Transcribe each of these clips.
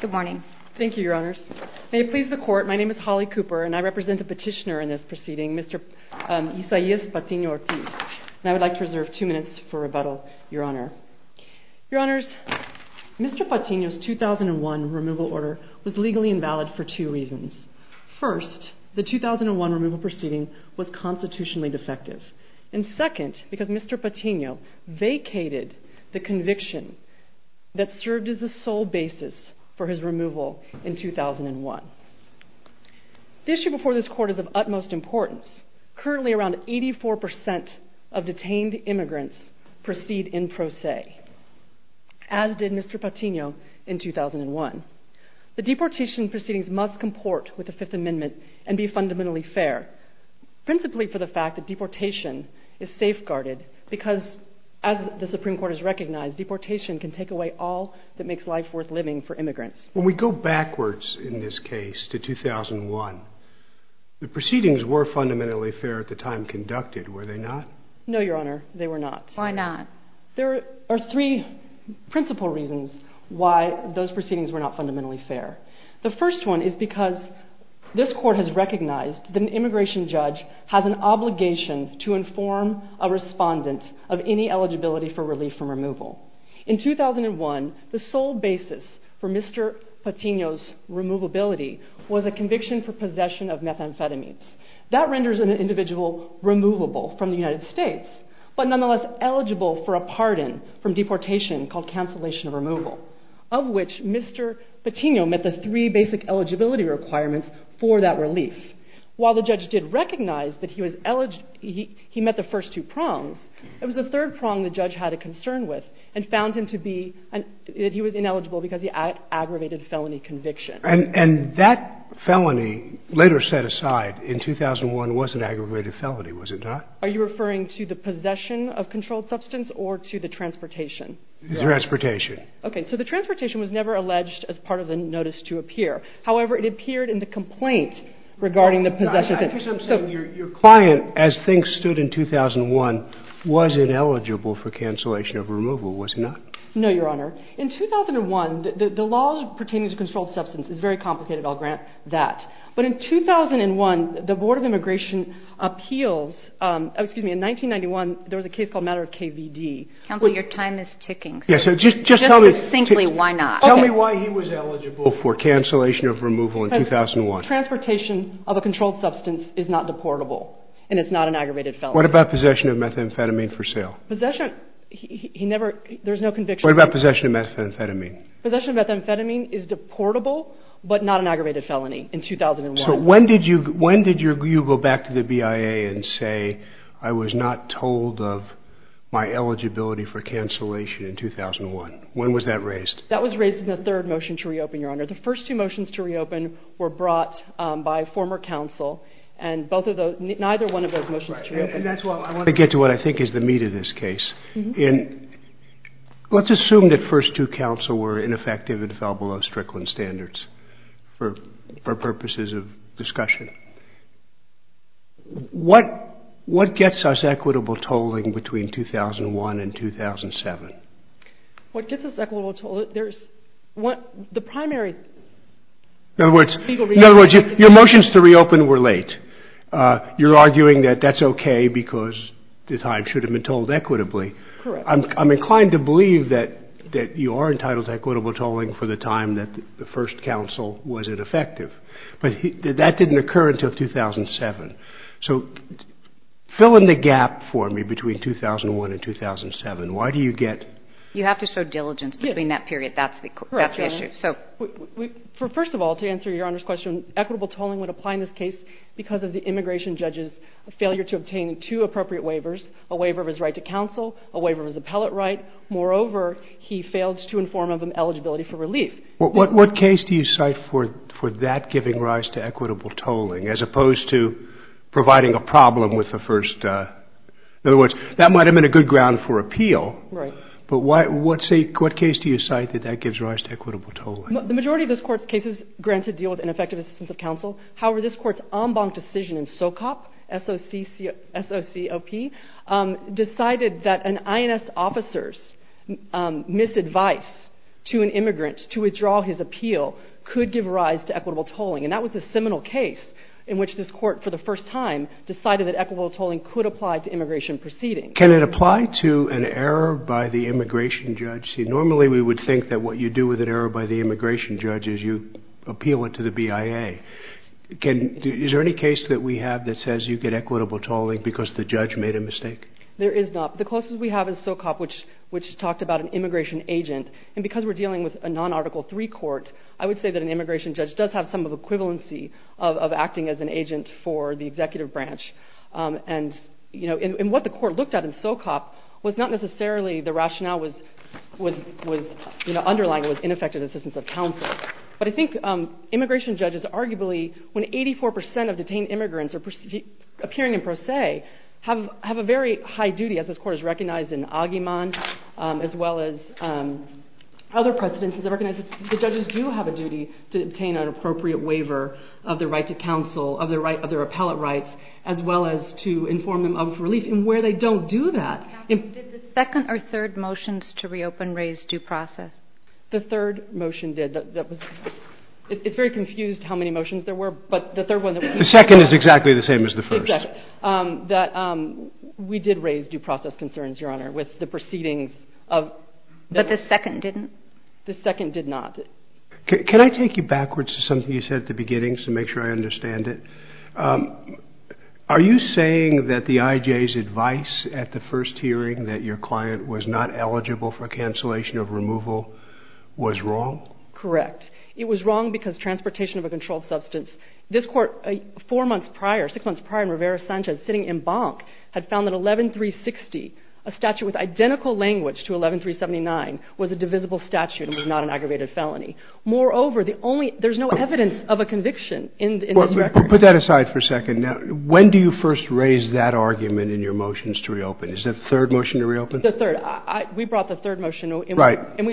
Good morning. Thank you, Your Honors. May it please the Court, my name is Holly Cooper, and I represent the petitioner in this proceeding, Mr. Ysalas Patino-Ortiz, and I would like to reserve two minutes for rebuttal, Your Honor. Your Honors, Mr. Patino's 2001 removal order was legally invalid for two reasons. First, the 2001 removal proceeding was constitutionally defective. And second, because Mr. Patino vacated the conviction that served as the sole basis for his removal in 2001. The issue before this Court is of utmost importance. Currently around 84% of detained immigrants proceed in pro se, as did Mr. Patino in 2001. The deportation proceedings must comport with the Fifth Amendment and be fundamentally fair, principally for the fact that deportation is safeguarded, because as the Supreme Court has recognized, deportation can take away all that makes life worth living for immigrants. When we go backwards in this case to 2001, the proceedings were fundamentally fair at the time conducted, were they not? No, Your Honor, they were not. Why not? There are three principal reasons why those proceedings were not fundamentally fair. The first one is because this Court has recognized that an immigration judge has an obligation to inform a respondent of any eligibility for relief from removal. In 2001, the sole basis for Mr. Patino's removability was a conviction for possession of methamphetamines. That renders an individual removable from the United States, but nonetheless eligible for a pardon from deportation called cancellation of removal, of which Mr. Patino met the three basic eligibility requirements for that relief. While the judge did recognize that he met the first two prongs, it was the third prong the judge had a concern with and found him to be – that he was ineligible because he aggravated felony conviction. And that felony later set aside in 2001 was an aggravated felony, was it not? Are you referring to the possession of controlled substance or to the transportation? The transportation. Okay. So the transportation was never alleged as part of the notice to appear. However, it appeared in the complaint regarding the possession. Your client, as things stood in 2001, was ineligible for cancellation of removal, was he not? No, Your Honor. In 2001, the laws pertaining to controlled substance is very complicated. I'll grant that. But in 2001, the Board of Immigration appeals – excuse me, in 1991, there was a case called Matter of KVD. Counsel, your time is ticking. Just tell me. Just succinctly, why not? Tell me why he was eligible for cancellation of removal in 2001. Transportation of a controlled substance is not deportable and it's not an aggravated felony. What about possession of methamphetamine for sale? Possession – he never – there's no conviction. What about possession of methamphetamine? Possession of methamphetamine is deportable but not an aggravated felony in 2001. So when did you go back to the BIA and say, I was not told of my eligibility for cancellation in 2001? When was that raised? That was raised in the third motion to reopen, Your Honor. The first two motions to reopen were brought by former counsel and both of those – neither one of those motions to reopen. And that's why I want to get to what I think is the meat of this case. And let's assume that first two counsel were ineffective and fell below Strickland standards for purposes of discussion. What gets us equitable tolling between 2001 and 2007? What gets us equitable tolling – there's – the primary – In other words, your motions to reopen were late. You're arguing that that's okay because the time should have been tolled equitably. Correct. I'm inclined to believe that you are entitled to equitable tolling for the time that the first counsel was ineffective. But that didn't occur until 2007. So fill in the gap for me between 2001 and 2007. Why do you get – You have to show diligence between that period. Yes. That's the issue. Correct, Your Honor. First of all, to answer Your Honor's question, equitable tolling would apply in this case because of the immigration judge's failure to obtain two appropriate waivers, a waiver of his right to counsel, a waiver of his appellate right. Moreover, he failed to inform of an eligibility for relief. What case do you cite for that giving rise to equitable tolling as opposed to providing a problem with the first – in other words, that might have been a good ground for appeal. Right. But what case do you cite that that gives rise to equitable tolling? The majority of this Court's cases granted deal with ineffective assistance of counsel. However, this Court's en banc decision in SOCOP, S-O-C-O-P, decided that an INS officer's misadvice to an immigrant to withdraw his appeal could give rise to equitable tolling. And that was the seminal case in which this Court for the first time decided that equitable tolling could apply to immigration proceedings. Can it apply to an error by the immigration judge? See, normally we would think that what you do with an error by the immigration judge is you appeal it to the BIA. Is there any case that we have that says you get equitable tolling because the judge made a mistake? There is not. The closest we have is SOCOP, which talked about an immigration agent. And because we're dealing with a non-Article III court, I would say that an immigration judge does have some of the equivalency of acting as an agent for the executive branch. And what the Court looked at in SOCOP was not necessarily the rationale underlying with ineffective assistance of counsel. But I think immigration judges arguably, when 84 percent of detained immigrants are appearing in pro se, have a very high duty, as this Court has recognized in Aguiman, as well as other precedents. I recognize that the judges do have a duty to obtain an appropriate waiver of their right to counsel, of their appellate rights, as well as to inform them of relief. And where they don't do that. Did the second or third motions to reopen raise due process? The third motion did. It's very confused how many motions there were. But the third one. The second is exactly the same as the first. Exactly. We did raise due process concerns, Your Honor, with the proceedings. But the second didn't? The second did not. Can I take you backwards to something you said at the beginning, to make sure I understand it? Are you saying that the IJ's advice at the first hearing, that your client was not eligible for cancellation of removal, was wrong? Correct. It was wrong because transportation of a controlled substance. This Court, four months prior, six months prior, in Rivera-Sanchez, sitting in Banque, had found that 11360, a statute with identical language to 11379, was a divisible statute and was not an aggravated felony. Moreover, the only ‑‑ there's no evidence of a conviction in this record. Put that aside for a second. Now, when do you first raise that argument in your motions to reopen? Is it the third motion to reopen? The third. We brought the third motion. Right. And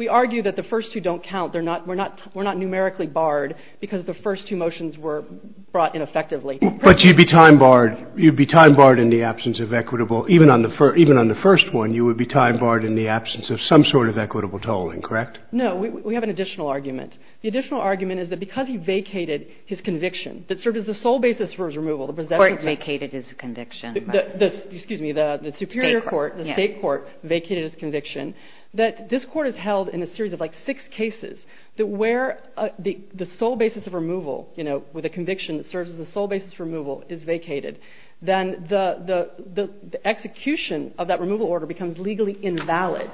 we argue that the first two don't count. They're not ‑‑ we're not numerically barred because the first two motions were brought in effectively. But you'd be time‑barred. You'd be time‑barred in the absence of equitable, even on the first one, you would be time‑barred in the absence of some sort of equitable tolling, correct? No. We have an additional argument. The additional argument is that because he vacated his conviction that served as the sole basis for his removal, the possession of ‑‑ The Court vacated his conviction. Excuse me. The superior court, the State court vacated his conviction, that this Court has held in a series of like six cases that where the sole basis of removal, you know, with a conviction that serves as the sole basis for removal is vacated, then the execution of that removal order becomes legally invalid.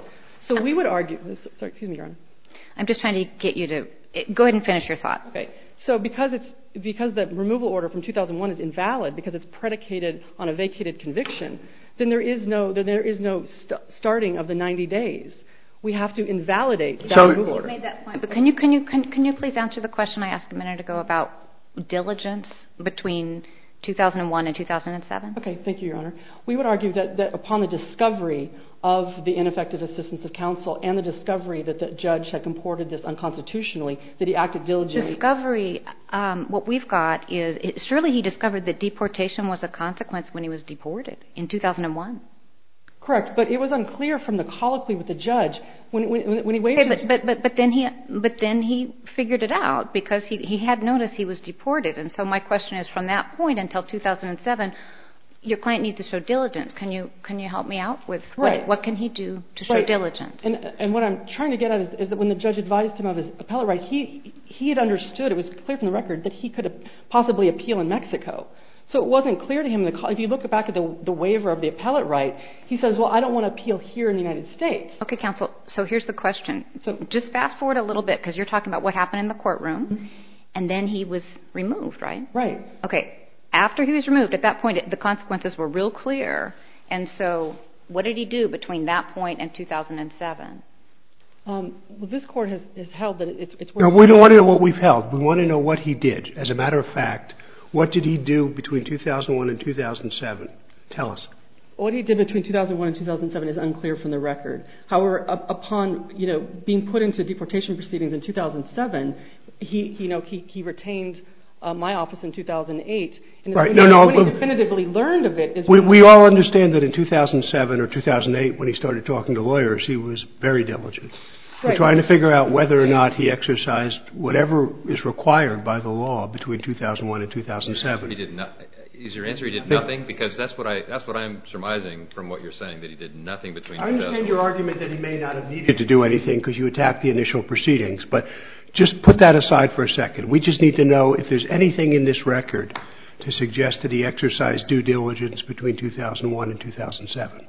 So we would argue ‑‑ sorry, excuse me, Your Honor. I'm just trying to get you to ‑‑ go ahead and finish your thought. Okay. So because the removal order from 2001 is invalid because it's predicated on a vacated conviction, then there is no starting of the 90 days. We have to invalidate that removal order. Can you please answer the question I asked a minute ago about diligence between 2001 and 2007? Okay. Thank you, Your Honor. We would argue that upon the discovery of the ineffective assistance of counsel and the discovery that the judge had comported this unconstitutionally that he acted diligently. Discovery, what we've got is surely he discovered that deportation was a consequence when he was deported in 2001. Correct. But it was unclear from the colloquy with the judge when he waived his ‑‑ Okay. But then he figured it out because he had noticed he was deported. And so my question is from that point until 2007, your client needs to show diligence. Can you help me out with what can he do to show diligence? Right. And what I'm trying to get at is that when the judge advised him of his appellate right, he had understood, it was clear from the record, that he could possibly appeal in Mexico. So it wasn't clear to him. If you look back at the waiver of the appellate right, he says, well, I don't want to appeal here in the United States. Okay, counsel. So here's the question. Just fast forward a little bit because you're talking about what happened in the courtroom. And then he was removed, right? Right. Okay. After he was removed, at that point, the consequences were real clear. And so what did he do between that point and 2007? Well, this court has held that it's ‑‑ We don't want to know what we've held. We want to know what he did. As a matter of fact, what did he do between 2001 and 2007? Tell us. What he did between 2001 and 2007 is unclear from the record. However, upon being put into deportation proceedings in 2007, he retained my office in 2008. Right. No, no. What he definitively learned of it is ‑‑ We all understand that in 2007 or 2008, when he started talking to lawyers, he was very diligent. Right. Trying to figure out whether or not he exercised whatever is required by the law between 2001 and 2007. Is your answer he did nothing? Because that's what I'm surmising from what you're saying, that he did nothing between 2007. I understand your argument that he may not have needed to do anything because you attacked the initial proceedings. But just put that aside for a second. We just need to know if there's anything in this record to suggest that he exercised due diligence between 2001 and 2007.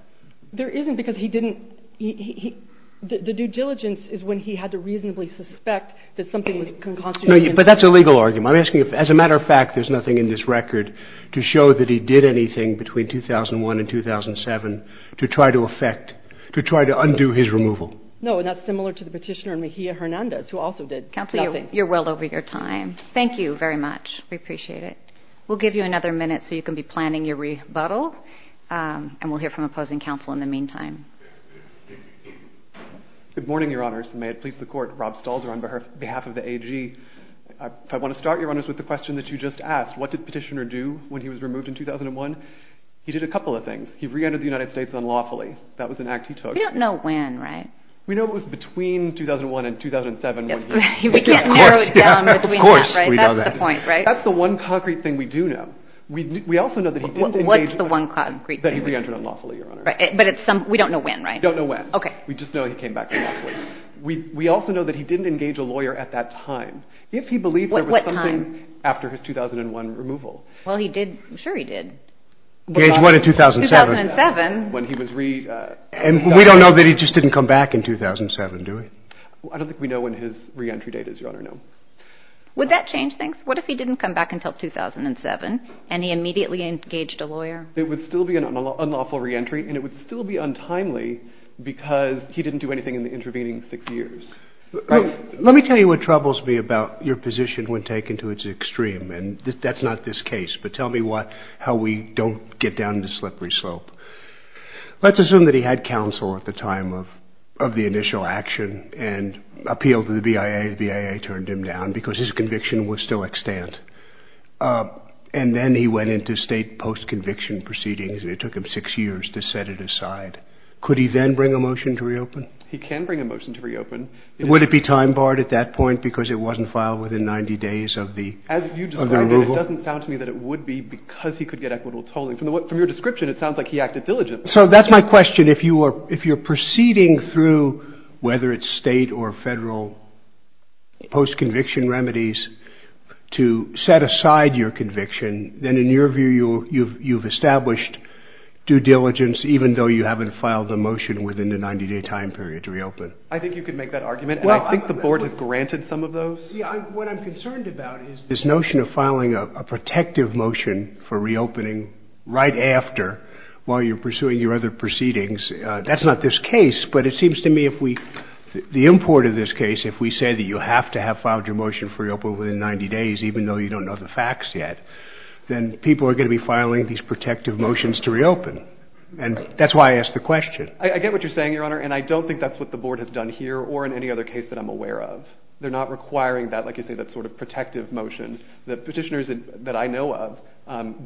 There isn't because he didn't ‑‑ the due diligence is when he had to reasonably suspect that something was concocted. But that's a legal argument. I'm asking if, as a matter of fact, there's nothing in this record to show that he did anything between 2001 and 2007 to try to affect, to try to undo his removal. No, and that's similar to the petitioner in Mejia Hernandez, who also did nothing. Counselor, you're well over your time. Thank you very much. We appreciate it. We'll give you another minute so you can be planning your rebuttal. And we'll hear from opposing counsel in the meantime. Good morning, Your Honors. May it please the Court. Rob Stalzer on behalf of the AG. I want to start, Your Honors, with the question that you just asked. What did the petitioner do when he was removed in 2001? He did a couple of things. He reentered the United States unlawfully. That was an act he took. We don't know when, right? We know it was between 2001 and 2007. We can't narrow it down. Of course we can't. That's the point, right? That's the one concrete thing we do know. What's the one concrete thing? That he reentered unlawfully, Your Honor. But we don't know when, right? We don't know when. Okay. We just know he came back unlawfully. We also know that he didn't engage a lawyer at that time. If he believed there was something after his 2001 removal. Well, he did. I'm sure he did. Engage what in 2007? 2007. When he was re- And we don't know that he just didn't come back in 2007, do we? I don't think we know when his reentry date is, Your Honor. No. Would that change things? What if he didn't come back until 2007, and he immediately engaged a lawyer? It would still be an unlawful reentry, and it would still be untimely because he didn't do anything in the intervening six years. Let me tell you what troubles me about your position when taken to its extreme, and that's not this case, but tell me how we don't get down the slippery slope. Let's assume that he had counsel at the time of the initial action and appealed to the BIA. The BIA turned him down because his conviction was still extant. And then he went into state post-conviction proceedings, and it took him six years to set it aside. Could he then bring a motion to reopen? He can bring a motion to reopen. Would it be time-barred at that point because it wasn't filed within 90 days of the removal? As you described it, it doesn't sound to me that it would be because he could get equitable tolling. From your description, it sounds like he acted diligently. So that's my question. If you're proceeding through, whether it's state or federal post-conviction remedies, to set aside your conviction, then in your view you've established due diligence, even though you haven't filed a motion within the 90-day time period to reopen. I think you could make that argument, and I think the Board has granted some of those. What I'm concerned about is this notion of filing a protective motion for reopening right after, while you're pursuing your other proceedings. That's not this case. But it seems to me if we, the import of this case, if we say that you have to have filed your motion for reopen within 90 days, even though you don't know the facts yet, then people are going to be filing these protective motions to reopen. And that's why I asked the question. I get what you're saying, Your Honor, and I don't think that's what the Board has done here or in any other case that I'm aware of. They're not requiring that, like you say, that sort of protective motion. The petitioners that I know of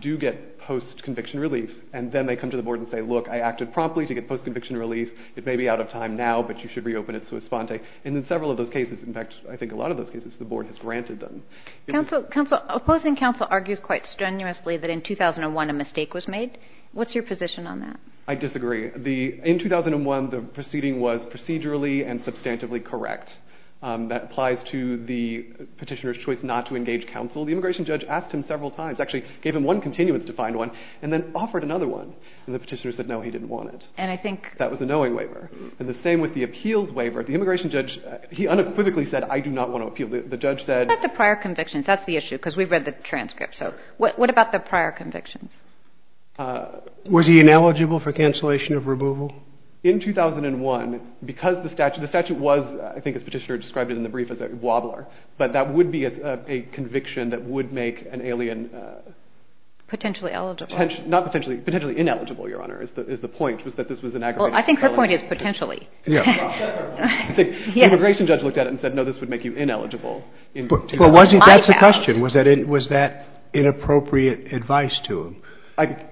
do get post-conviction relief, and then they come to the Board and say, look, I acted promptly to get post-conviction relief. It may be out of time now, but you should reopen it so it's fonte. And in several of those cases, in fact, I think a lot of those cases, the Board has granted them. Counsel, opposing counsel argues quite strenuously that in 2001 a mistake was made. What's your position on that? I disagree. In 2001, the proceeding was procedurally and substantively correct. That applies to the petitioner's choice not to engage counsel. The immigration judge asked him several times, actually gave him one continuance to find one, and then offered another one, and the petitioner said, no, he didn't want it. That was a knowing waiver. And the same with the appeals waiver. The immigration judge, he unequivocally said, I do not want to appeal. The judge said. What about the prior convictions? That's the issue because we've read the transcript. So what about the prior convictions? Was he ineligible for cancellation of removal? In 2001, because the statute was, I think as the petitioner described it in the brief, as a wobbler, but that would be a conviction that would make an alien. Potentially eligible. Not potentially. Potentially ineligible, Your Honor, is the point, was that this was an aggravated felony. Well, I think her point is potentially. Yeah. The immigration judge looked at it and said, no, this would make you ineligible. But wasn't that the question? Was that inappropriate advice to him?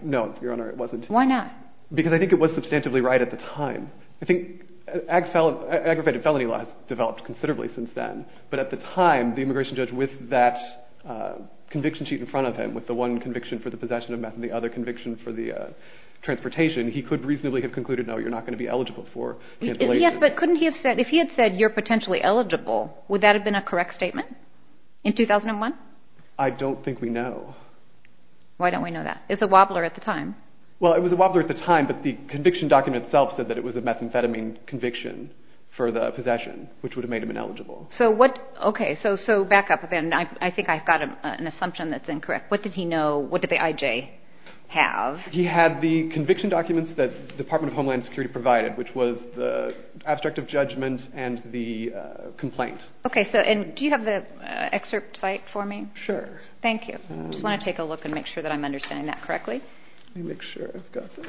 No, Your Honor, it wasn't. Why not? Because I think it was substantively right at the time. I think aggravated felony law has developed considerably since then, but at the time, the immigration judge, with that conviction sheet in front of him, with the one conviction for the possession of meth and the other conviction for the transportation, he could reasonably have concluded, no, you're not going to be eligible for cancellation. Yes, but couldn't he have said, if he had said you're potentially eligible, would that have been a correct statement in 2001? I don't think we know. Why don't we know that? It's a wobbler at the time. Well, it was a wobbler at the time, but the conviction document itself said that it was a methamphetamine conviction for the possession, which would have made him ineligible. Okay, so back up a bit. I think I've got an assumption that's incorrect. What did he know? What did the IJ have? He had the conviction documents that the Department of Homeland Security provided, which was the abstract of judgment and the complaint. Okay, and do you have the excerpt site for me? Sure. Thank you. I just want to take a look and make sure that I'm understanding that correctly. Let me make sure I've got this.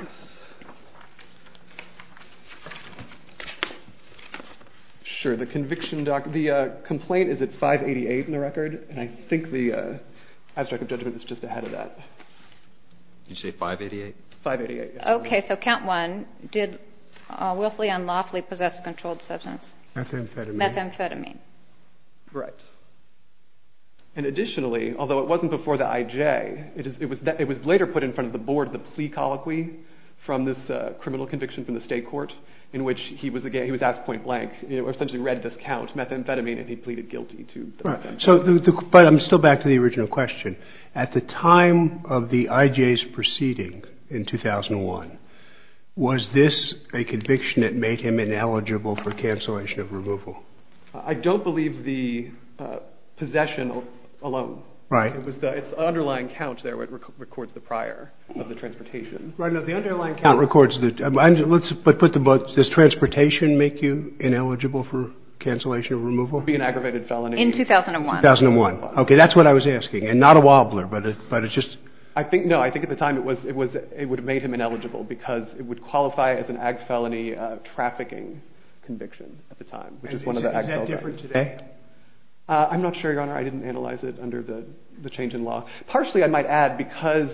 Sure. The complaint is at 588 in the record, and I think the abstract of judgment is just ahead of that. Did you say 588? 588, yes. Okay, so count one. Did Wilfley and Laughley possess a controlled substance? Methamphetamine. Methamphetamine. Right. And additionally, although it wasn't before the IJ, it was later put in front of the board, the plea colloquy from this criminal conviction from the state court, in which he was asked point blank, essentially read this count, methamphetamine, and he pleaded guilty to the offense. But I'm still back to the original question. At the time of the IJ's proceeding in 2001, was this a conviction that made him ineligible for cancellation of removal? I don't believe the possession alone. Right. It's the underlying count there that records the prior of the transportation. Right. No, the underlying count records. Let's put them both. Does transportation make you ineligible for cancellation of removal? It would be an aggravated felony. In 2001. 2001. Okay, that's what I was asking, and not a wobbler, but it's just. No, I think at the time it would have made him ineligible because it would qualify as an ag felony trafficking conviction at the time, which is one of the ag felonies. Is that different today? I'm not sure, Your Honor. I didn't analyze it under the change in law. Partially, I might add, because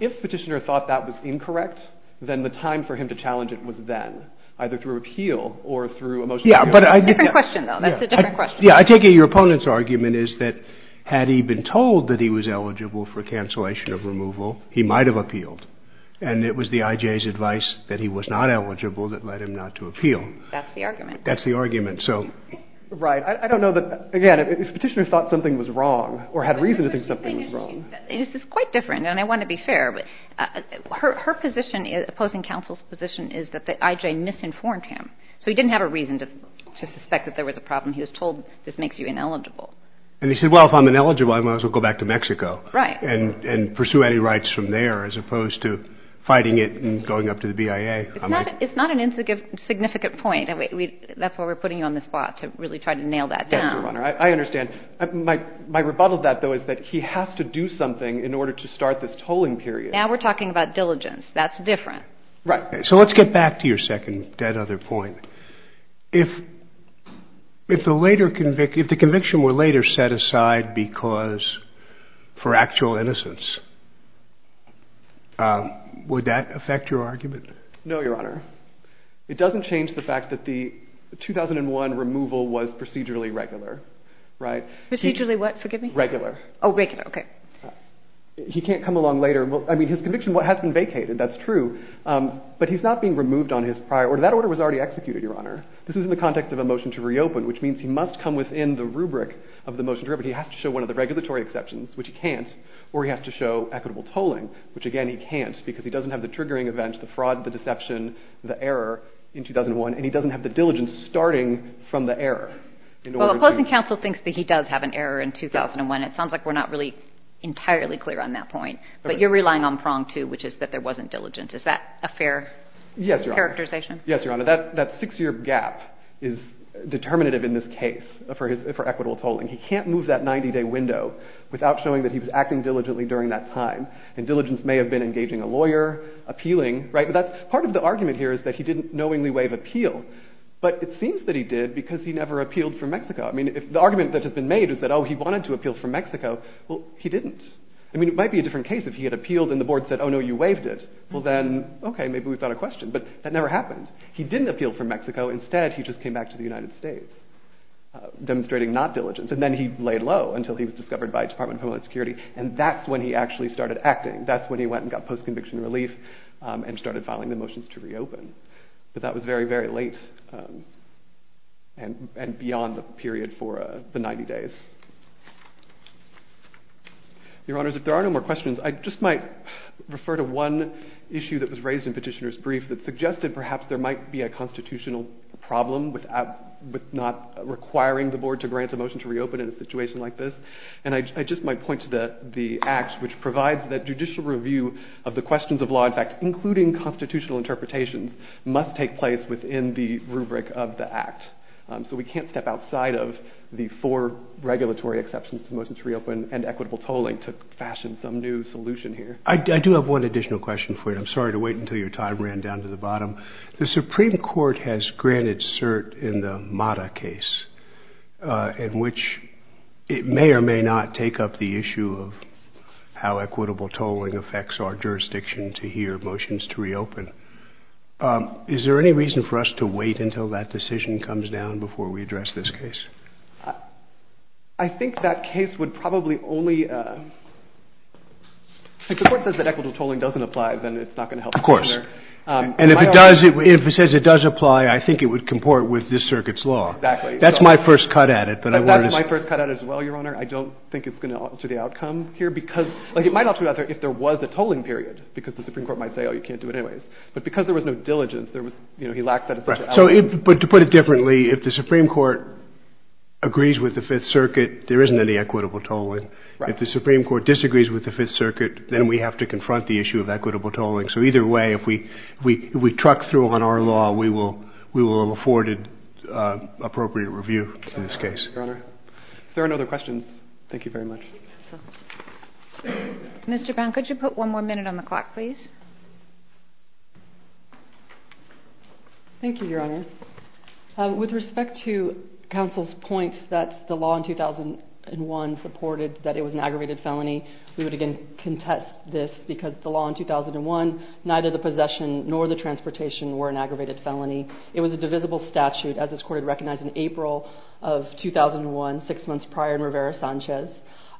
if Petitioner thought that was incorrect, then the time for him to challenge it was then, either through appeal or through a motion to appeal. It's a different question, though. That's a different question. I take it your opponent's argument is that had he been told that he was eligible for cancellation of removal, he might have appealed. And it was the IJ's advice that he was not eligible that led him not to appeal. That's the argument. That's the argument. Right. I don't know that, again, if Petitioner thought something was wrong or had reason to think something was wrong. This is quite different, and I want to be fair. Her position, opposing counsel's position, is that the IJ misinformed him. So he didn't have a reason to suspect that there was a problem. He was told this makes you ineligible. And he said, well, if I'm ineligible, I might as well go back to Mexico and pursue any rights from there as opposed to fighting it and going up to the BIA. It's not an insignificant point. That's why we're putting you on the spot to really try to nail that down. Yes, Your Honor. I understand. My rebuttal to that, though, is that he has to do something in order to start this tolling period. Now we're talking about diligence. That's different. Right. So let's get back to your second dead-other point. If the conviction were later set aside for actual innocence, would that affect your argument? No, Your Honor. It doesn't change the fact that the 2001 removal was procedurally regular, right? Procedurally what? Forgive me. Regular. Oh, regular. OK. He can't come along later. I mean, his conviction has been vacated. That's true. But he's not being removed on his prior order. That order was already executed, Your Honor. This is in the context of a motion to reopen, which means he must come within the rubric of the motion to reopen. He has to show one of the regulatory exceptions, which he can't. Or he has to show equitable tolling, which, again, he can't because he doesn't have the triggering event, the fraud, the deception, the error in 2001, and he doesn't have the diligence starting from the error. Well, opposing counsel thinks that he does have an error in 2001. It sounds like we're not really entirely clear on that point. But you're relying on prong two, which is that there wasn't diligence. Is that a fair characterization? Yes, Your Honor. That six-year gap is determinative in this case for equitable tolling. He can't move that 90-day window without showing that he was acting diligently during that time. And diligence may have been engaging a lawyer, appealing, right? But part of the argument here is that he didn't knowingly waive appeal. But it seems that he did because he never appealed for Mexico. I mean, the argument that has been made is that, oh, he wanted to appeal for Mexico. Well, he didn't. I mean, it might be a different case if he had appealed and the board said, oh, no, you waived it. Well, then, OK, maybe we've got a question. But that never happened. He didn't appeal for Mexico. Instead, he just came back to the United States demonstrating not diligence. And then he laid low until he was discovered by Department of Homeland Security. And that's when he actually started acting. That's when he went and got post-conviction relief and started filing the motions to reopen. But that was very, very late and beyond the period for the 90 days. Your Honors, if there are no more questions, I just might refer to one issue that was raised in Petitioner's Brief that suggested perhaps there might be a constitutional problem with not requiring the board to grant a motion to reopen in a situation like this. And I just might point to the Act, which provides that judicial review of the questions of law, in fact, including constitutional interpretations, must take place within the rubric of the Act. So we can't step outside of the four regulatory exceptions to motions to reopen and equitable tolling to fashion some new solution here. I do have one additional question for you. The Supreme Court has granted cert in the Mata case, in which it may or may not take up the issue of how equitable tolling affects our jurisdiction to hear motions to reopen. Is there any reason for us to wait until that decision comes down before we address this case? I think that case would probably only – if the Court says that equitable tolling doesn't apply, then it's not going to help Petitioner. And if it does – if it says it does apply, I think it would comport with this circuit's law. Exactly. That's my first cut at it, but I want to – That's my first cut at it as well, Your Honor. I don't think it's going to alter the outcome here, because – like, it might alter the outcome if there was a tolling period, because the Supreme Court might say, oh, you can't do it anyways. But because there was no diligence, there was – you know, he lacks that essential element. Right. So if – but to put it differently, if the Supreme Court agrees with the Fifth Circuit, there isn't any equitable tolling. Right. If the Supreme Court disagrees with the Fifth Circuit, then we have to confront the issue of equitable tolling. So either way, if we – if we truck through on our law, we will have afforded appropriate review in this case. Your Honor. If there are no other questions, thank you very much. Mr. Brown, could you put one more minute on the clock, please? Thank you, Your Honor. With respect to counsel's point that the law in 2001 reported that it was an aggravated felony, we would again contest this, because the law in 2001, neither the possession nor the transportation were an aggravated felony. It was a divisible statute, as this Court had recognized in April of 2001, six months prior in Rivera-Sanchez.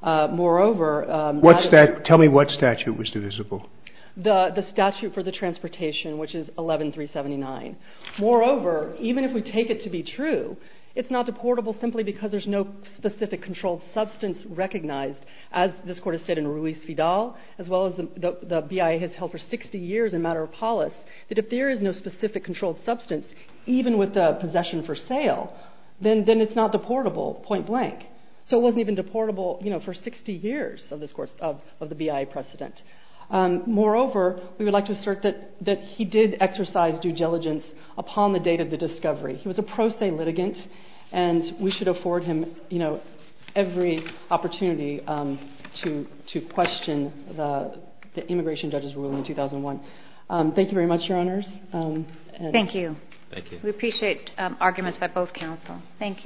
Moreover – What's that – tell me what statute was divisible. The statute for the transportation, which is 11379. Moreover, even if we take it to be true, it's not deportable simply because there's no specific controlled substance recognized, as this Court has said in Ruiz-Fidal, as well as the BIA has held for 60 years in Matter of Polis, that if there is no specific controlled substance, even with the possession for sale, then it's not deportable, point blank. So it wasn't even deportable, you know, for 60 years of this – of the BIA precedent. Moreover, we would like to assert that he did exercise due diligence upon the date of the discovery. He was a pro se litigant, and we should afford him, you know, every opportunity to question the immigration judge's ruling in 2001. Thank you very much, Your Honors. Thank you. Thank you. We appreciate arguments by both counsel. Thank you.